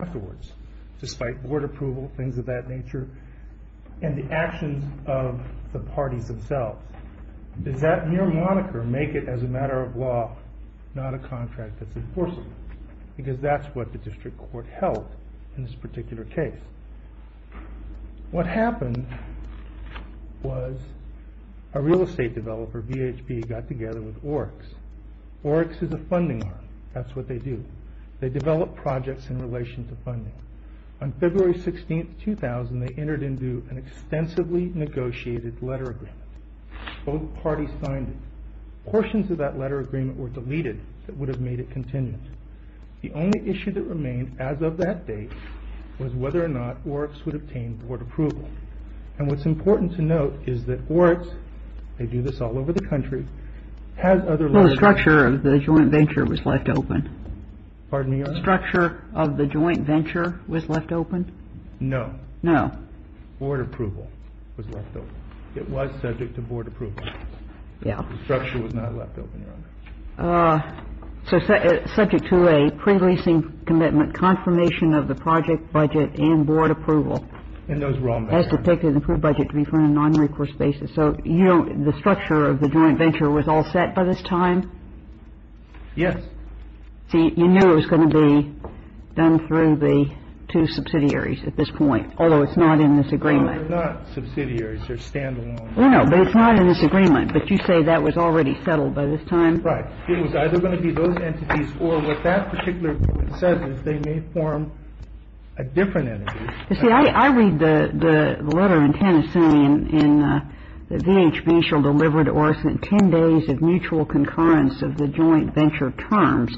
Afterwards, despite board approval, things of that nature, and the actions of the parties themselves, does that mere moniker make it as a matter of law not a contract that's enforceable? Because that's what the district court held in this particular case. What happened was a real estate developer, VHB, got together with Orix. Orix is a funding arm, that's what they do. They develop projects in relation to funding. On February 16, 2000, they entered into an extensively negotiated letter agreement. Both parties signed it. Portions of that letter agreement were deleted that would have made it contingent. The only issue that remained as of that date was whether or not Orix would obtain board approval. And what's important to note is that Orix, they do this all over the country, has other... Well, the structure of the joint venture was left open. Pardon me, Your Honor? The structure of the joint venture was left open? No. No. Board approval was left open. It was subject to board approval. Yeah. The structure was not left open, Your Honor. So subject to a pre-leasing commitment confirmation of the project budget and board approval. And those were all met. As depicted in the approved budget to be funded on a non-recourse basis. So you don't... The structure of the joint venture was all set by this time? Yes. See, you knew it was going to be done through the two subsidiaries at this point, although it's not in this agreement. No, they're not subsidiaries. They're stand-alone. No, but it's not in this agreement. But you say that was already settled by this time? Right. It was either going to be those entities or what that particular agreement says is they may form a different entity. You see, I read the letter in Tennessee in the VHB shall deliver to Orson 10 days of mutual concurrence of the joint venture terms,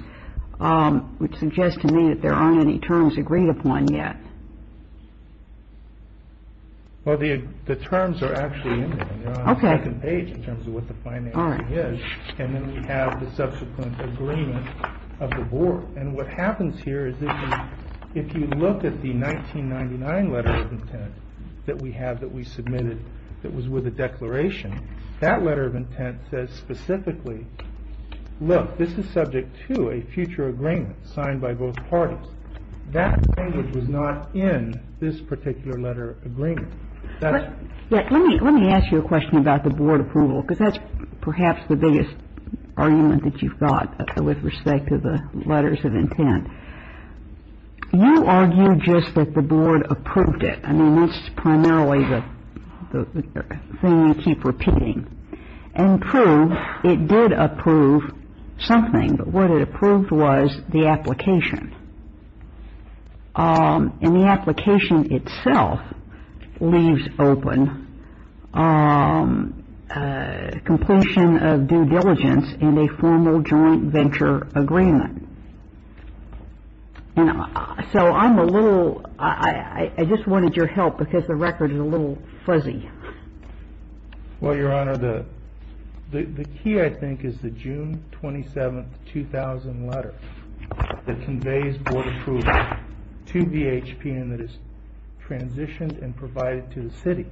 which suggests to me that there aren't any terms agreed upon yet. Well, the terms are actually in there. Okay. They're on the second page in terms of what the financing is. And then we have the subsequent agreement of the board. And what happens here is if you look at the 1999 letter of intent that we have that we submitted that was with a declaration, that letter of intent says specifically, look, this is subject to a future agreement signed by both parties. That language was not in this particular letter of agreement. Let me ask you a question about the board approval because that's perhaps the biggest argument that you've got with respect to the letters of intent. You argue just that the board approved it. I mean, that's primarily the thing you keep repeating. And prove it did approve something. But what it approved was the application. And the application itself leaves open completion of due diligence and a formal joint venture agreement. So I'm a little ‑‑ I just wanted your help because the record is a little fuzzy. Well, Your Honor, the key I think is the June 27, 2000 letter that conveys board approval to DHPN that is transitioned and provided to the city.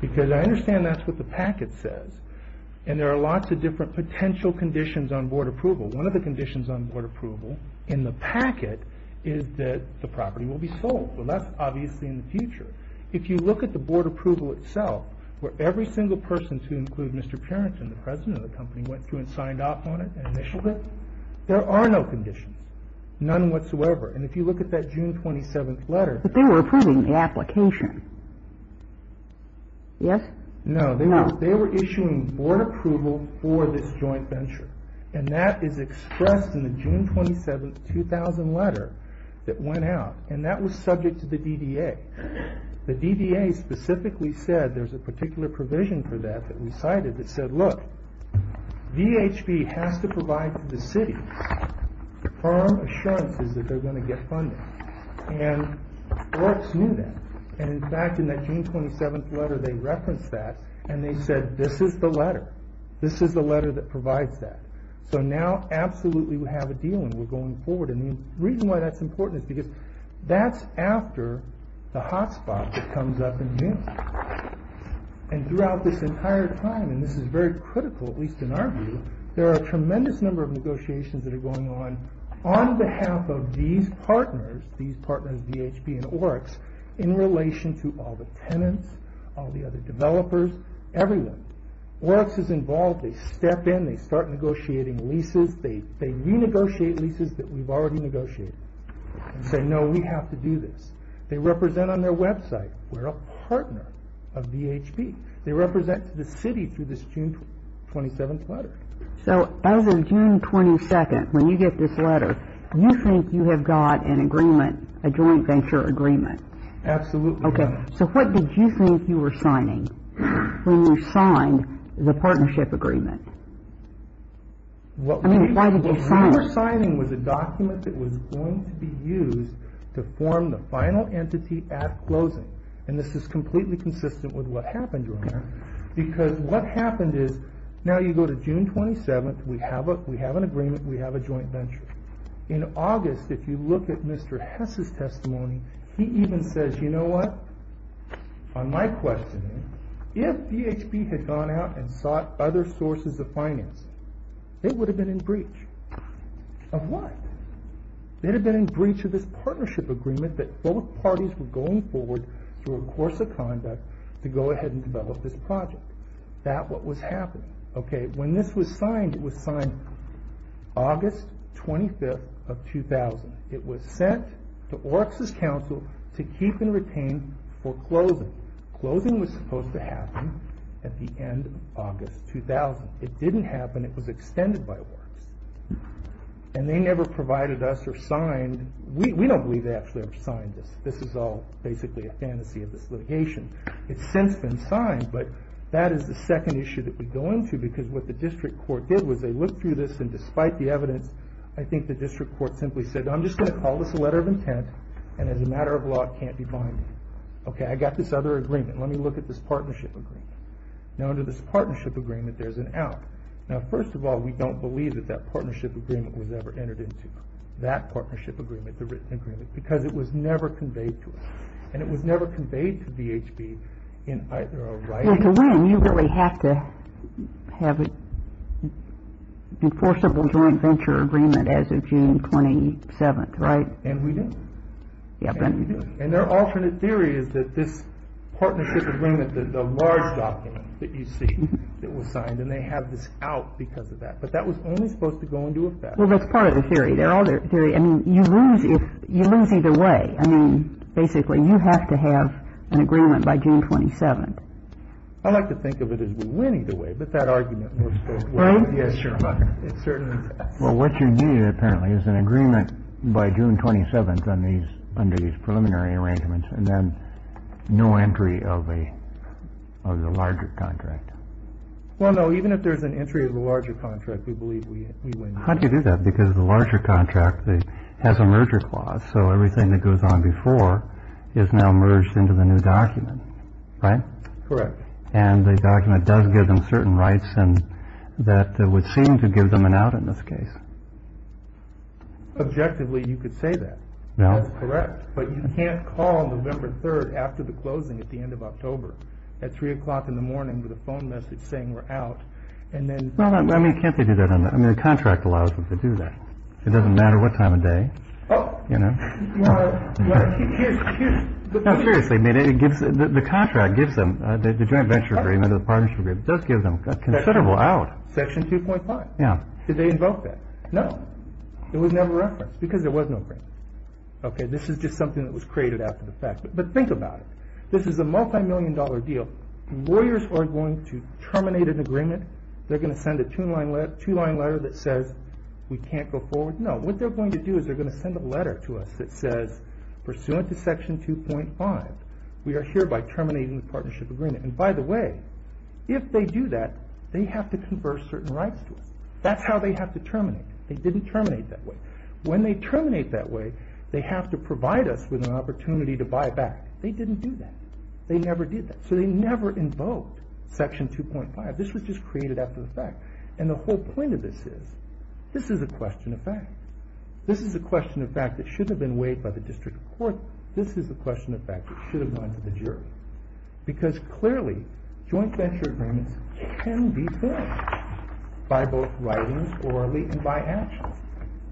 Because I understand that's what the packet says. And there are lots of different potential conditions on board approval. One of the conditions on board approval in the packet is that the property will be sold. Well, that's obviously in the future. If you look at the board approval itself, where every single person, to include Mr. Parenton, the president of the company, went through and signed off on it and initialed it. There are no conditions. None whatsoever. And if you look at that June 27 letter. But they were approving the application. Yes? No. They were issuing board approval for this joint venture. And that is expressed in the June 27, 2000 letter that went out. And that was subject to the DDA. The DDA specifically said there's a particular provision for that that we cited that said, look, DHB has to provide to the city the firm assurances that they're going to get funding. And folks knew that. And in fact, in that June 27 letter, they referenced that. And they said, this is the letter. This is the letter that provides that. So now, absolutely, we have a deal and we're going forward. And the reason why that's important is because that's after the hotspot comes up in June. And throughout this entire time, and this is very critical, at least in our view, there are a tremendous number of negotiations that are going on on behalf of these partners, these partners, DHB and Oryx, in relation to all the tenants, all the other developers, everyone. Oryx is involved. They step in. They start negotiating leases. They renegotiate leases that we've already negotiated and say, no, we have to do this. They represent on their website. We're a partner of DHB. They represent to the city through this June 27 letter. So as of June 22, when you get this letter, you think you have got an agreement, a joint venture agreement? Absolutely. Okay. So what did you think you were signing when you signed the partnership agreement? What we were signing was a document that was going to be used to form the final entity at closing. And this is completely consistent with what happened earlier because what happened is now you go to June 27. We have an agreement. We have a joint venture. In August, if you look at Mr. Hess's testimony, he even says, you know what? On my question, if DHB had gone out and sought other sources of finance, it would have been in breach. Of what? It would have been in breach of this partnership agreement that both parties were going forward through a course of conduct to go ahead and develop this project. That's what was happening. Okay. When this was signed, it was signed August 25, 2000. It was sent to Oryx's counsel to keep and retain for closing. Closing was supposed to happen at the end of August 2000. It didn't happen. It was extended by Oryx. And they never provided us or signed. We don't believe they actually ever signed this. This is all basically a fantasy of this litigation. It's since been signed, but that is the second issue that we go into because what the district court did was they looked through this, and despite the evidence, I think the district court simply said, I'm just going to call this a letter of intent, and as a matter of law, it can't be binding. Okay, I got this other agreement. Let me look at this partnership agreement. Now, under this partnership agreement, there's an out. Now, first of all, we don't believe that that partnership agreement was ever entered into, that partnership agreement, the written agreement, because it was never conveyed to us, and it was never conveyed to DHB in either a right or a wrong. And you really have to have an enforceable joint venture agreement as of June 27th, right? And we didn't. And their alternate theory is that this partnership agreement, the large document that you see that was signed, and they have this out because of that. But that was only supposed to go into effect. Well, that's part of the theory. They're all their theory. I mean, you lose either way. I mean, basically, you have to have an agreement by June 27th. I like to think of it as winning the way. But that argument. Yes, sir. Well, what you need, apparently, is an agreement by June 27th on these under these preliminary arrangements and then no entry of a larger contract. Well, no, even if there's an entry of a larger contract, we believe we can do that because the larger contract has a merger clause. So everything that goes on before is now merged into the new document. Right. Correct. And the document does give them certain rights and that would seem to give them an out in this case. Objectively, you could say that. Now, correct. But you can't call November 3rd after the closing at the end of October at three o'clock in the morning with a phone message saying we're out. And then I mean, can't they do that? I mean, the contract allows them to do that. It doesn't matter what time of day. Oh, you know, seriously, it gives the contract gives them the joint venture agreement. The partnership does give them considerable out. Section 2.5. Yeah. Did they invoke that? No. It was never referenced because there was no. OK, this is just something that was created after the fact. But think about it. This is a multimillion dollar deal. Warriors are going to terminate an agreement. They're going to send a two line letter, two line letter that says we can't go forward. No, what they're going to do is they're going to send a letter to us that says pursuant to Section 2.5, we are hereby terminating the partnership agreement. And by the way, if they do that, they have to convert certain rights to us. That's how they have to terminate. They didn't terminate that way. When they terminate that way, they have to provide us with an opportunity to buy back. They didn't do that. They never did that. So they never invoked Section 2.5. This was just created after the fact. And the whole point of this is, this is a question of fact. This is a question of fact that should have been weighed by the district court. This is a question of fact that should have gone to the jury. Because clearly, joint venture agreements can be finished by both writings, orally, and by actions.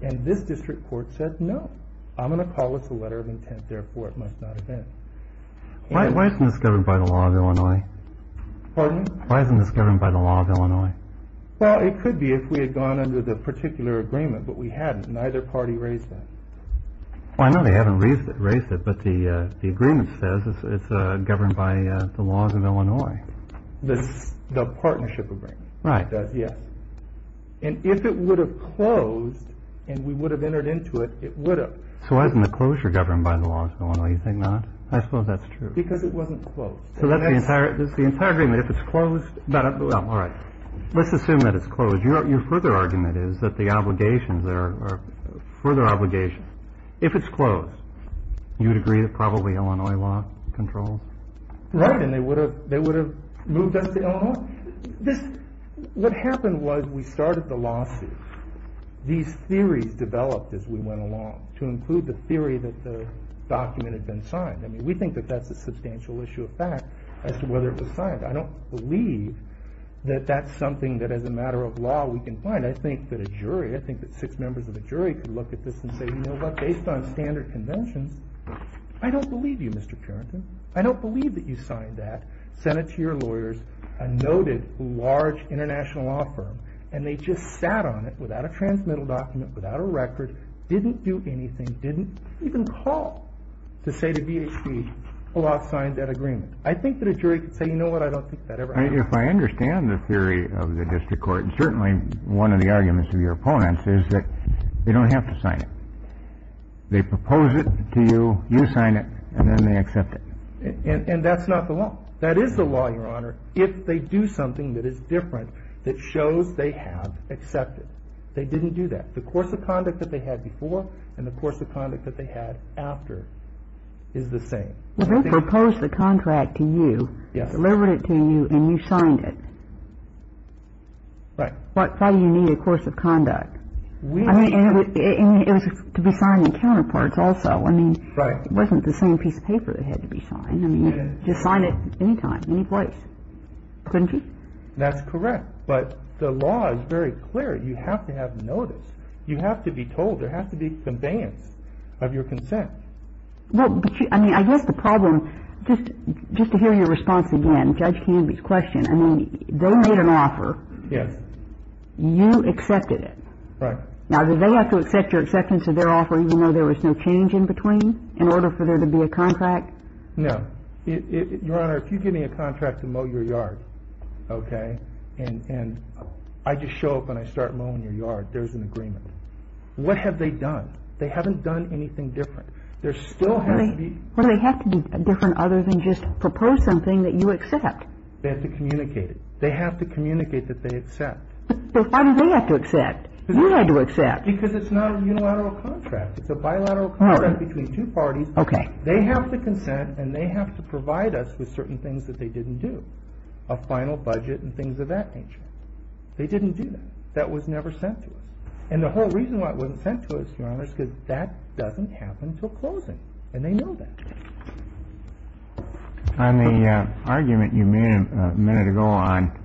And this district court said no. I'm going to call this a letter of intent, therefore it must not have been. Why isn't this governed by the law of Illinois? Pardon me? Why isn't this governed by the law of Illinois? Well, it could be if we had gone under the particular agreement. But we hadn't. Neither party raised that. Well, I know they haven't raised it. But the agreement says it's governed by the laws of Illinois. The partnership agreement. Right. Yes. And if it would have closed and we would have entered into it, it would have. So why isn't the closure governed by the laws of Illinois? You think not? I suppose that's true. Because it wasn't closed. So that's the entire agreement. If it's closed. All right. Let's assume that it's closed. Your further argument is that the obligations there are further obligations. If it's closed, you would agree that probably Illinois law controls? Right. And they would have moved us to Illinois? What happened was we started the lawsuit. These theories developed as we went along to include the theory that the document had been signed. I don't believe that that's something that as a matter of law we can find. I think that a jury, I think that six members of the jury could look at this and say, you know what? Based on standard conventions, I don't believe you, Mr. Carrington. I don't believe that you signed that. Sent it to your lawyers, a noted large international law firm. And they just sat on it without a transmittal document, without a record. Didn't do anything. Didn't even call to say to BHP, hold off signing that agreement. I think that a jury could say, you know what? I don't think that ever happened. If I understand the theory of the district court, and certainly one of the arguments of your opponents is that they don't have to sign it. They propose it to you, you sign it, and then they accept it. And that's not the law. That is the law, Your Honor, if they do something that is different that shows they have accepted. They didn't do that. The course of conduct that they had before and the course of conduct that they had after is the same. They proposed the contract to you, delivered it to you, and you signed it. Right. Why do you need a course of conduct? I mean, it was to be signed in counterparts also. I mean, it wasn't the same piece of paper that had to be signed. I mean, you could sign it any time, any place, couldn't you? That's correct. But the law is very clear. You have to have notice. You have to be told. There has to be conveyance of your consent. I mean, I guess the problem, just to hear your response again, Judge Canby's question, I mean, they made an offer. Yes. You accepted it. Right. Now, did they have to accept your acceptance of their offer even though there was no change in between in order for there to be a contract? No. Your Honor, if you give me a contract to mow your yard, okay, and I just show up and I start mowing your yard, there's an agreement. What have they done? They haven't done anything different. There still has to be. Well, they have to be different other than just propose something that you accept. They have to communicate it. They have to communicate that they accept. But why do they have to accept? You had to accept. Because it's not a unilateral contract. It's a bilateral contract between two parties. Okay. They have to consent and they have to provide us with certain things that they didn't do, a final budget and things of that nature. They didn't do that. That was never sent to us. And the whole reason why it wasn't sent to us, Your Honor, is because that doesn't happen until closing. And they know that. On the argument you made a minute ago on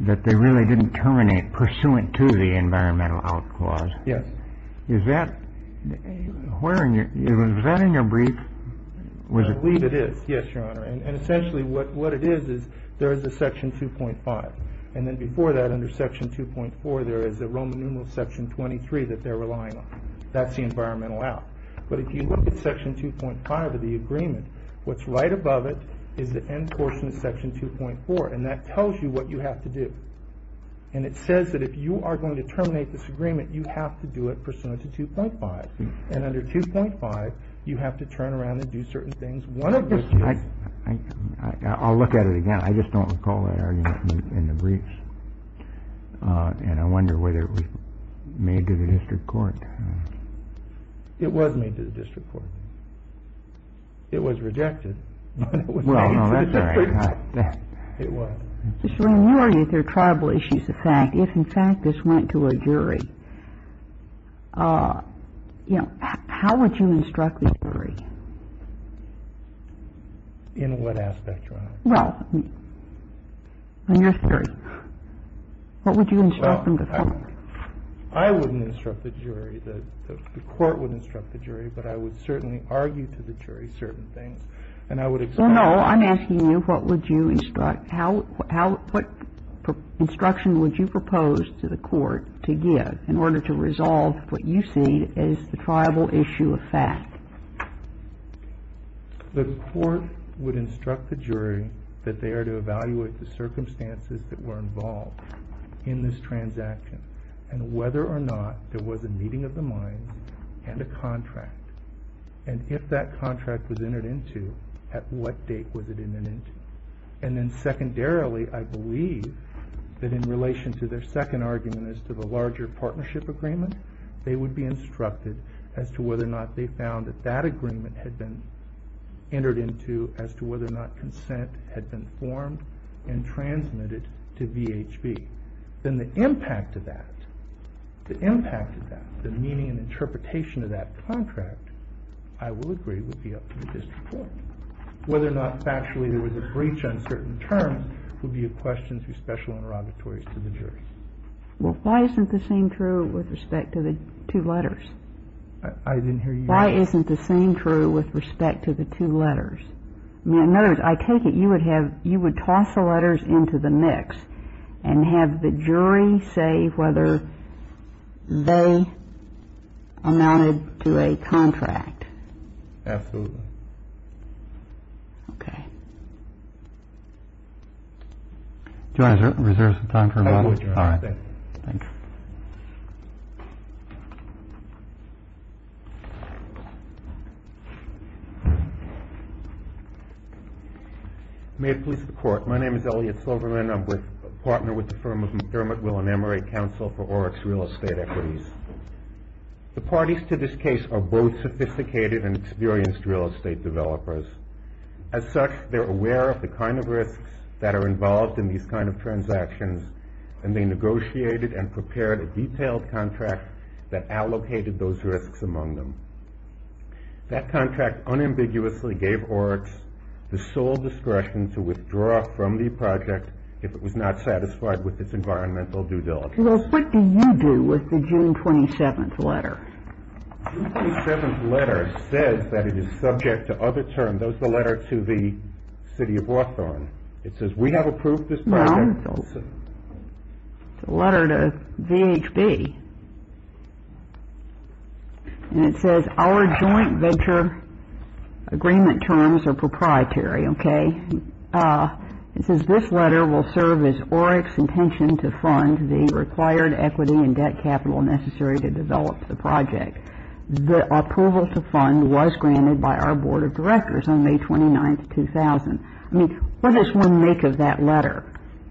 that they really didn't terminate pursuant to the environmental out clause. Yes. Is that where in your ñ was that in your brief? I believe it is. Yes, Your Honor. And essentially what it is is there is a Section 2.5. And then before that, under Section 2.4, there is a Roman numeral Section 23 that they're relying on. That's the environmental out. But if you look at Section 2.5 of the agreement, what's right above it is the end portion of Section 2.4. And that tells you what you have to do. And it says that if you are going to terminate this agreement, you have to do it pursuant to 2.5. And under 2.5, you have to turn around and do certain things. I'll look at it again. I just don't recall that argument in the briefs. And I wonder whether it was made to the district court. It was made to the district court. It was rejected. Well, no, that's all right. It was. Mr. Raymond, what are your tribal issues of fact? If in fact this went to a jury, you know, how would you instruct the jury? In what aspect, Your Honor? Well, on your theory. What would you instruct them to think? I wouldn't instruct the jury. The court wouldn't instruct the jury. But I would certainly argue to the jury certain things. Well, no, I'm asking you what instruction would you propose to the court to give in order to resolve what you see as the tribal issue of fact? The court would instruct the jury that they are to evaluate the circumstances that were involved in this transaction and whether or not there was a meeting of the minds and a contract. And if that contract was entered into, at what date was it entered into? And then secondarily, I believe that in relation to their second argument as to the larger partnership agreement, they would be instructed as to whether or not they found that that agreement had been entered into as to whether or not consent had been formed and transmitted to VHB. Then the impact of that, the impact of that, the meaning and interpretation of that contract, I will agree would be up to the district court. Whether or not factually there was a breach on certain terms would be a question through special interrogatories to the jury. Well, why isn't the same true with respect to the two letters? I didn't hear you. Why isn't the same true with respect to the two letters? I mean, in other words, I take it you would have, you would toss the letters into the mix and have the jury say whether they amounted to a contract. Absolutely. Okay. Do you want to reserve some time for a moment? I would, Your Honor. All right. Thanks. May it please the Court. My name is Elliot Silverman. I'm a partner with the firm of McDermott Will and Emery, Counsel for Oryx Real Estate Equities. The parties to this case are both sophisticated and experienced real estate developers. As such, they're aware of the kind of risks that are involved in these kind of transactions, and they negotiated and prepared a detailed contract that allocated those risks among them. That contract unambiguously gave Oryx the sole discretion to withdraw from the project if it was not satisfied with its environmental due diligence. Well, what do you do with the June 27th letter? The June 27th letter says that it is subject to other terms. That was the letter to the City of Lawthorne. It says, We have approved this project. No. It's a letter to VHB. And it says, Our joint venture agreement terms are proprietary. Okay. It says, This letter will serve as Oryx's intention to fund the required equity and debt capital necessary to develop the project. The approval to fund was granted by our Board of Directors on May 29th, 2000. I mean, what does one make of that letter?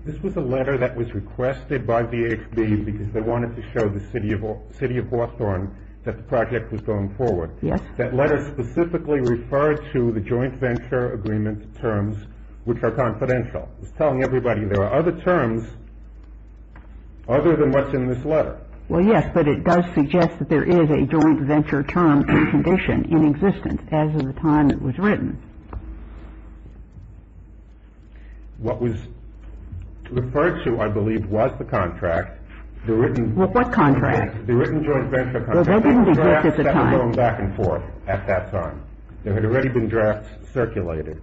This was a letter that was requested by VHB because they wanted to show the City of Lawthorne that the project was going forward. Yes. That letter specifically referred to the joint venture agreement terms, which are confidential. It's telling everybody there are other terms other than what's in this letter. Well, yes, but it does suggest that there is a joint venture term condition in existence, as of the time it was written. What was referred to, I believe, was the contract. What contract? The written joint venture contract. Well, there didn't exist at the time. There were drafts that were going back and forth at that time. There had already been drafts circulated.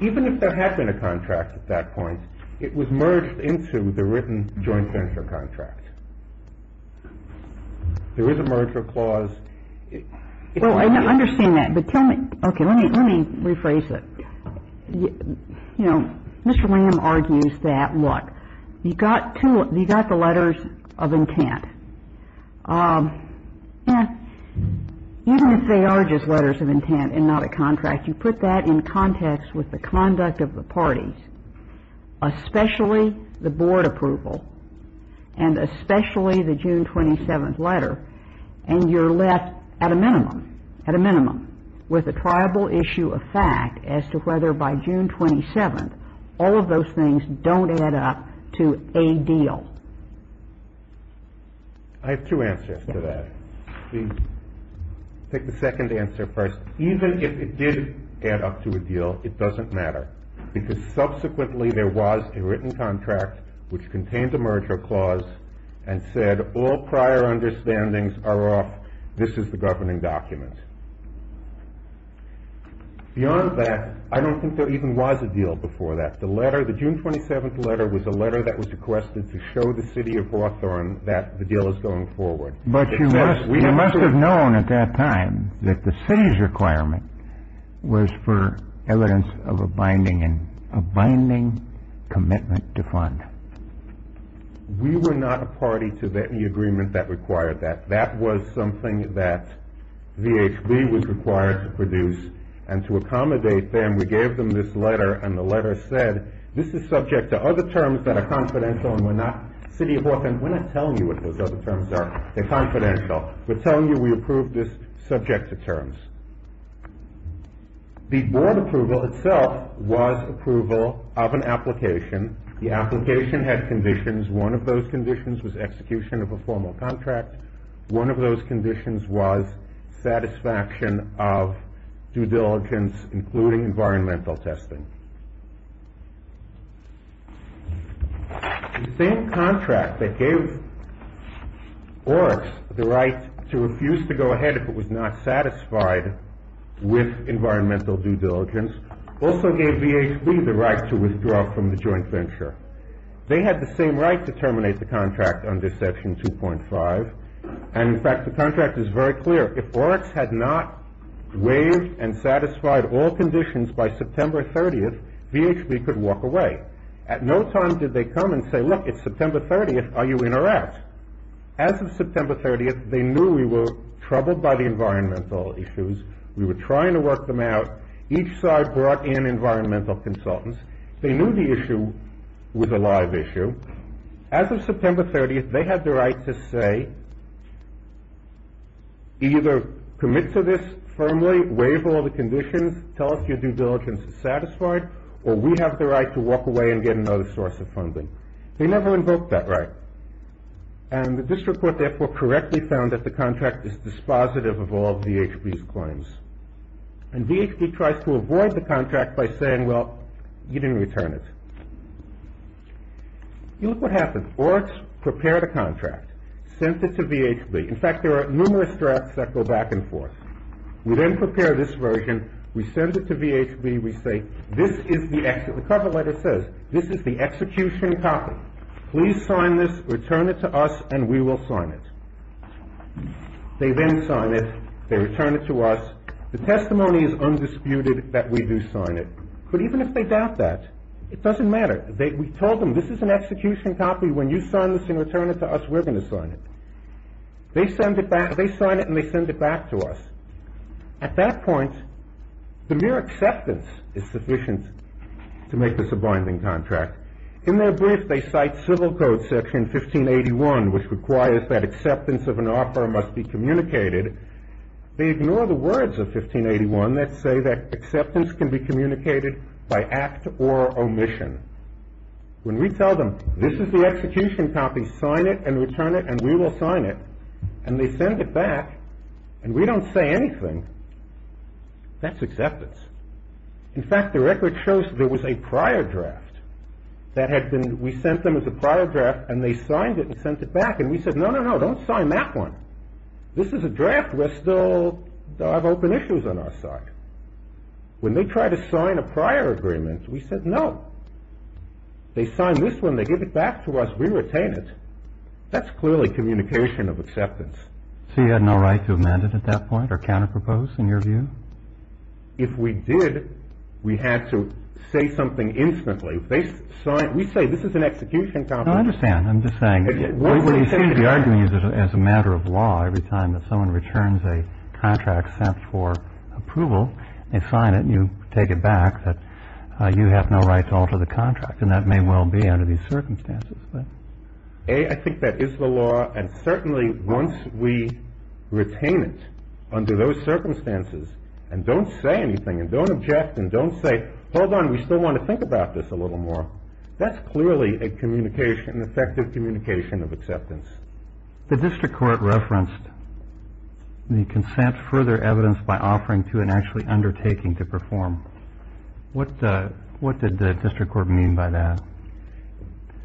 Even if there had been a contract at that point, it was merged into the written joint venture contract. There is a merger clause. Well, I understand that. But tell me, okay, let me rephrase it. You know, Mr. Lamb argues that, look, you've got the letters of intent. You know, even if they are just letters of intent and not a contract, you put that in context with the conduct of the parties, especially the board approval and especially the June 27th letter, and you're left at a minimum, at a minimum, with a triable issue of fact as to whether by June 27th all of those things don't add up to a deal. I have two answers to that. I'll take the second answer first. Even if it did add up to a deal, it doesn't matter, because subsequently there was a written contract which contained a merger clause and said all prior understandings are off. This is the governing document. Beyond that, I don't think there even was a deal before that. The letter, the June 27th letter, was a letter that was requested to show the city of Hawthorne that the deal is going forward. But you must have known at that time that the city's requirement was for evidence of a binding commitment to fund. We were not a party to any agreement that required that. That was something that VHB was required to produce. And to accommodate them, we gave them this letter, and the letter said, this is subject to other terms that are confidential and were not city of Hawthorne. We're not telling you what those other terms are. They're confidential. We're telling you we approve this subject to terms. The board approval itself was approval of an application. The application had conditions. One of those conditions was execution of a formal contract. One of those conditions was satisfaction of due diligence, including environmental testing. The same contract that gave Oryx the right to refuse to go ahead if it was not satisfied with environmental due diligence also gave VHB the right to withdraw from the joint venture. They had the same right to terminate the contract under Section 2.5, and, in fact, the contract is very clear. If Oryx had not waived and satisfied all conditions by September 30th, VHB could walk away. At no time did they come and say, look, it's September 30th. Are you in or out? As of September 30th, they knew we were troubled by the environmental issues. We were trying to work them out. Each side brought in environmental consultants. They knew the issue was a live issue. As of September 30th, they had the right to say either commit to this firmly, waive all the conditions, tell us your due diligence is satisfied, or we have the right to walk away and get another source of funding. They never invoked that right, and the district court therefore correctly found that the contract is dispositive of all VHB's claims. And VHB tries to avoid the contract by saying, well, you didn't return it. You look what happened. Oryx prepared a contract, sent it to VHB. In fact, there are numerous drafts that go back and forth. We then prepare this version. We send it to VHB. We say this is the exit. The cover letter says this is the execution copy. Please sign this, return it to us, and we will sign it. They then sign it. They return it to us. The testimony is undisputed that we do sign it. But even if they doubt that, it doesn't matter. We told them this is an execution copy. When you sign this and return it to us, we're going to sign it. They sign it, and they send it back to us. At that point, the mere acceptance is sufficient to make this a binding contract. In their brief, they cite Civil Code Section 1581, which requires that acceptance of an offer must be communicated. They ignore the words of 1581 that say that acceptance can be communicated by act or omission. When we tell them this is the execution copy, sign it and return it, and we will sign it, and they send it back, and we don't say anything, that's acceptance. In fact, the record shows there was a prior draft. We sent them as a prior draft, and they signed it and sent it back, and we said, no, no, no, don't sign that one. This is a draft. We still have open issues on our side. When they try to sign a prior agreement, we said no. They sign this one. They give it back to us. We retain it. That's clearly communication of acceptance. So you had no right to amend it at that point or counter-propose, in your view? If we did, we had to say something instantly. If they sign it, we say this is an execution copy. No, I understand. I'm just saying, what you seem to be arguing is as a matter of law, every time that someone returns a contract sent for approval, they sign it, and you take it back, that you have no right to alter the contract, and that may well be under these circumstances. A, I think that is the law, and certainly once we retain it under those circumstances, and don't say anything, and don't object, and don't say, hold on, we still want to think about this a little more, that's clearly an effective communication of acceptance. The district court referenced the consent for their evidence by offering to and actually undertaking to perform. What did the district court mean by that?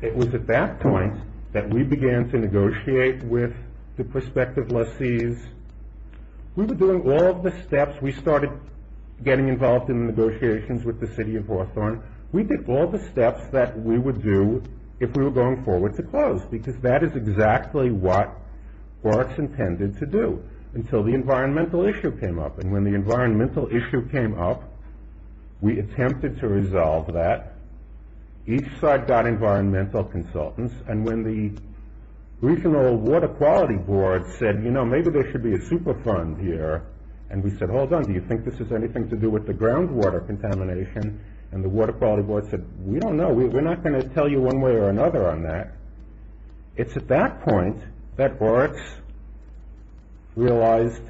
It was at that point that we began to negotiate with the prospective lessees. We were doing all of the steps. We started getting involved in negotiations with the city of Hawthorne. We did all the steps that we would do if we were going forward to close, because that is exactly what BART's intended to do until the environmental issue came up, and when the environmental issue came up, we attempted to resolve that. Each side got environmental consultants, and when the regional water quality board said, you know, maybe there should be a super fund here, and we said, hold on, do you think this has anything to do with the groundwater contamination, and the water quality board said, we don't know. We're not going to tell you one way or another on that. It's at that point that BART's realized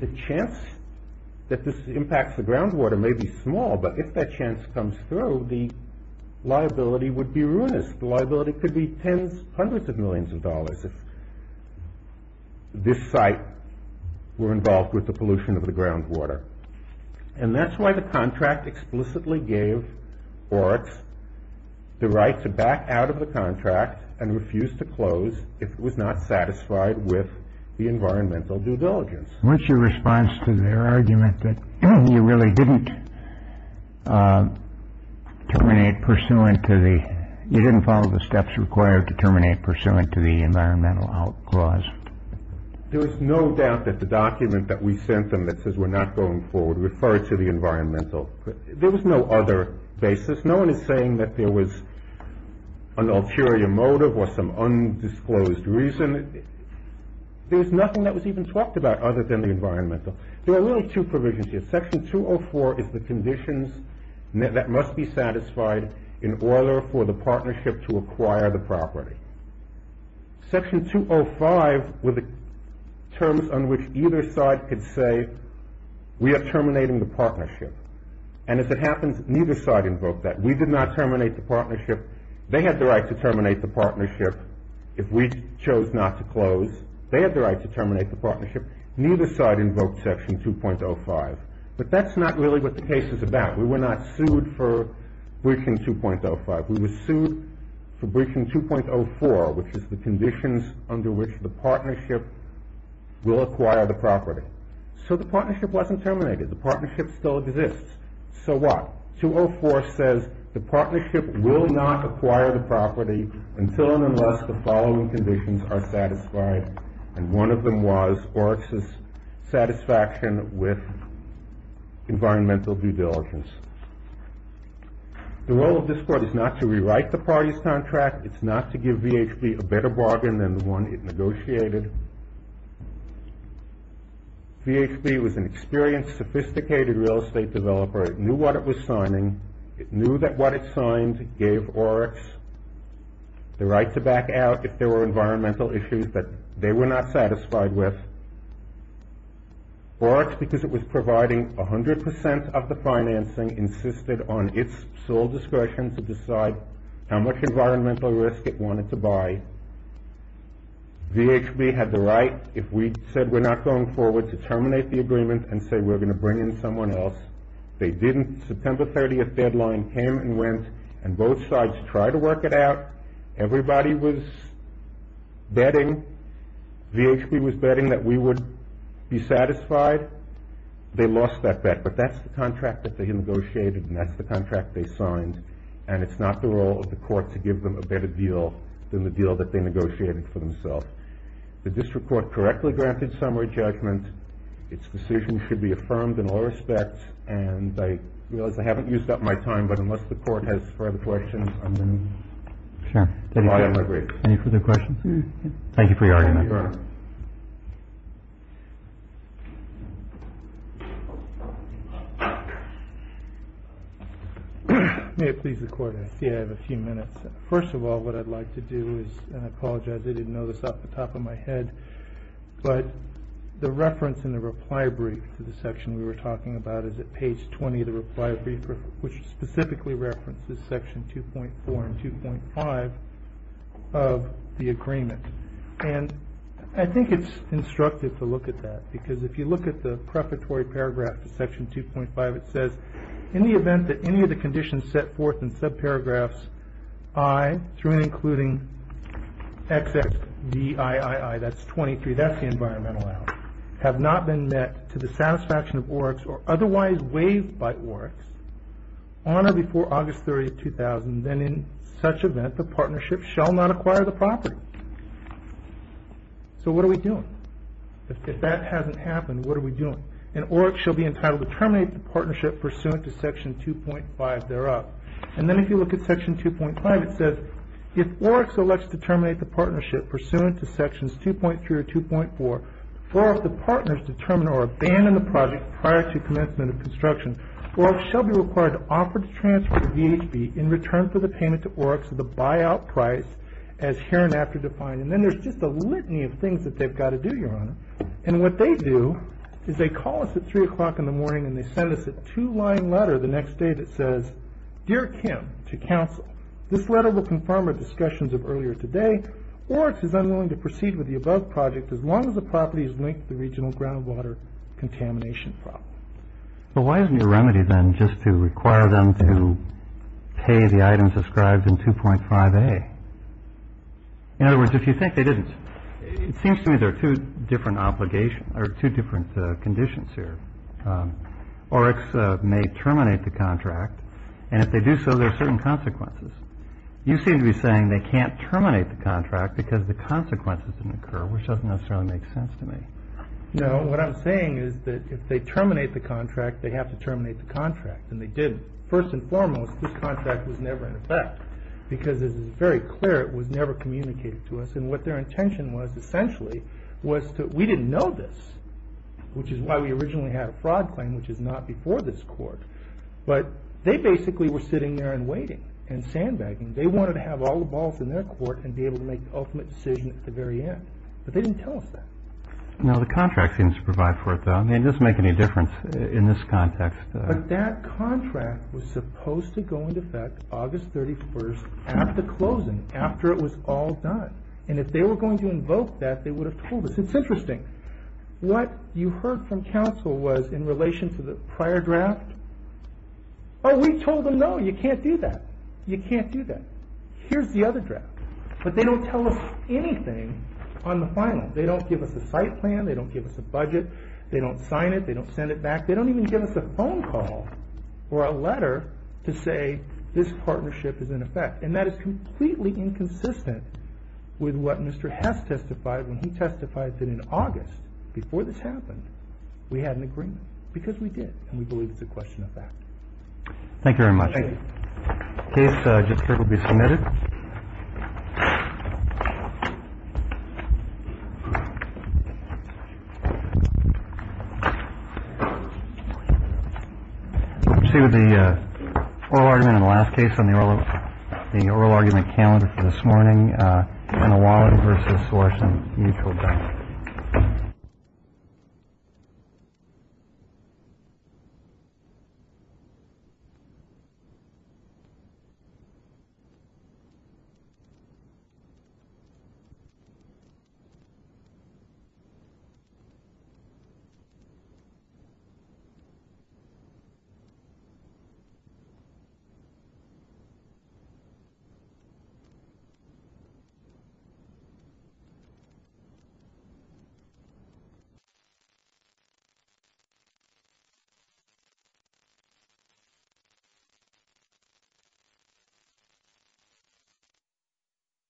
the chance that this impacts the groundwater may be small, but if that chance comes through, the liability would be ruinous. The liability could be tens, hundreds of millions of dollars if this site were involved with the pollution of the groundwater, and that's why the contract explicitly gave BART the right to back out of the contract and refuse to close if it was not satisfied with the environmental due diligence. What's your response to their argument that you really didn't terminate pursuant to the, you didn't follow the steps required to terminate pursuant to the environmental out clause? There is no doubt that the document that we sent them that says we're not going forward referred to the environmental. There was no other basis. No one is saying that there was an ulterior motive or some undisclosed reason. There's nothing that was even talked about other than the environmental. There are only two provisions here. Section 204 is the conditions that must be satisfied in order for the partnership to acquire the property. Section 205 were the terms on which either side could say we are terminating the partnership, and if it happens, neither side invoked that. We did not terminate the partnership. They had the right to terminate the partnership if we chose not to close. They had the right to terminate the partnership. Neither side invoked Section 2.05. But that's not really what the case is about. We were not sued for breaching 2.05. We were sued for breaching 2.04, which is the conditions under which the partnership will acquire the property. So the partnership wasn't terminated. The partnership still exists. So what? Section 204 says the partnership will not acquire the property until and unless the following conditions are satisfied, and one of them was Oryx's satisfaction with environmental due diligence. The role of this Court is not to rewrite the party's contract. It's not to give VHB a better bargain than the one it negotiated. VHB was an experienced, sophisticated real estate developer. It knew what it was signing. It knew that what it signed gave Oryx the right to back out if there were environmental issues that they were not satisfied with. Oryx, because it was providing 100 percent of the financing, insisted on its sole discretion to decide how much environmental risk it wanted to buy. VHB had the right, if we said we're not going forward, to terminate the agreement and say we're going to bring in someone else. They didn't. The September 30th deadline came and went, and both sides tried to work it out. Everybody was betting. VHB was betting that we would be satisfied. They lost that bet, but that's the contract that they negotiated, and that's the contract they signed, and it's not the role of the Court to give them a better deal than the deal that they negotiated for themselves. The District Court correctly granted summary judgment. Its decision should be affirmed in all respects, and I realize I haven't used up my time, but unless the Court has further questions, I'm going to end my brief. Any further questions? Thank you for your argument, Your Honor. May it please the Court, I see I have a few minutes. First of all, what I'd like to do is, and I apologize, I didn't know this off the top of my head, but the reference in the reply brief to the section we were talking about is at page 20 of the reply brief, which specifically references section 2.4 and 2.5 of the agreement, and I think it's instructive to look at that, because if you look at the preparatory paragraph to section 2.5, it says, in the event that any of the conditions set forth in subparagraphs I, through and including XXDIII, that's 23, that's the environmental act, have not been met to the satisfaction of ORECs or otherwise waived by ORECs, on or before August 30, 2000, then in such event, the partnership shall not acquire the property. So what are we doing? If that hasn't happened, what are we doing? An OREC shall be entitled to terminate the partnership pursuant to section 2.5 thereof. And then if you look at section 2.5, it says, if ORECs elect to terminate the partnership pursuant to sections 2.3 or 2.4, or if the partners determine or abandon the project prior to commencement of construction, ORECs shall be required to offer to transfer the VHB in return for the payment to ORECs at the buyout price as hereinafter defined. And then there's just a litany of things that they've got to do, Your Honor, and what they do is they call us at 3 o'clock in the morning and they send us a two-line letter the next day that says, Dear Kim, to counsel, this letter will confirm our discussions of earlier today. ORECs is unwilling to proceed with the above project as long as the property is linked to the regional groundwater contamination problem. But why isn't there a remedy then just to require them to pay the items described in 2.5a? In other words, if you think they didn't, it seems to me there are two different conditions here. ORECs may terminate the contract, and if they do so, there are certain consequences. You seem to be saying they can't terminate the contract because the consequences didn't occur, which doesn't necessarily make sense to me. No, what I'm saying is that if they terminate the contract, they have to terminate the contract, and they did. First and foremost, this contract was never in effect because it is very clear it was never communicated to us, and what their intention was essentially was that we didn't know this, which is why we originally had a fraud claim, which is not before this court. But they basically were sitting there and waiting and sandbagging. They wanted to have all the balls in their court and be able to make the ultimate decision at the very end. But they didn't tell us that. No, the contract seems to provide for it, though. It doesn't make any difference in this context. But that contract was supposed to go into effect August 31st at the closing, after it was all done. And if they were going to invoke that, they would have told us. It's interesting. What you heard from counsel was in relation to the prior draft, oh, we told them no, you can't do that. You can't do that. Here's the other draft. But they don't tell us anything on the final. They don't give us a site plan. They don't give us a budget. They don't sign it. They don't send it back. They don't even give us a phone call or a letter to say this partnership is in effect. And that is completely inconsistent with what Mr. Hess testified when he testified that in August, before this happened, we had an agreement. Because we did. And we believe it's a question of fact. Thank you very much. Thank you. The case will be submitted. Let's see what the oral argument in the last case on the oral argument calendar for this morning, on the wallet versus selection of mutual debt. Thank you.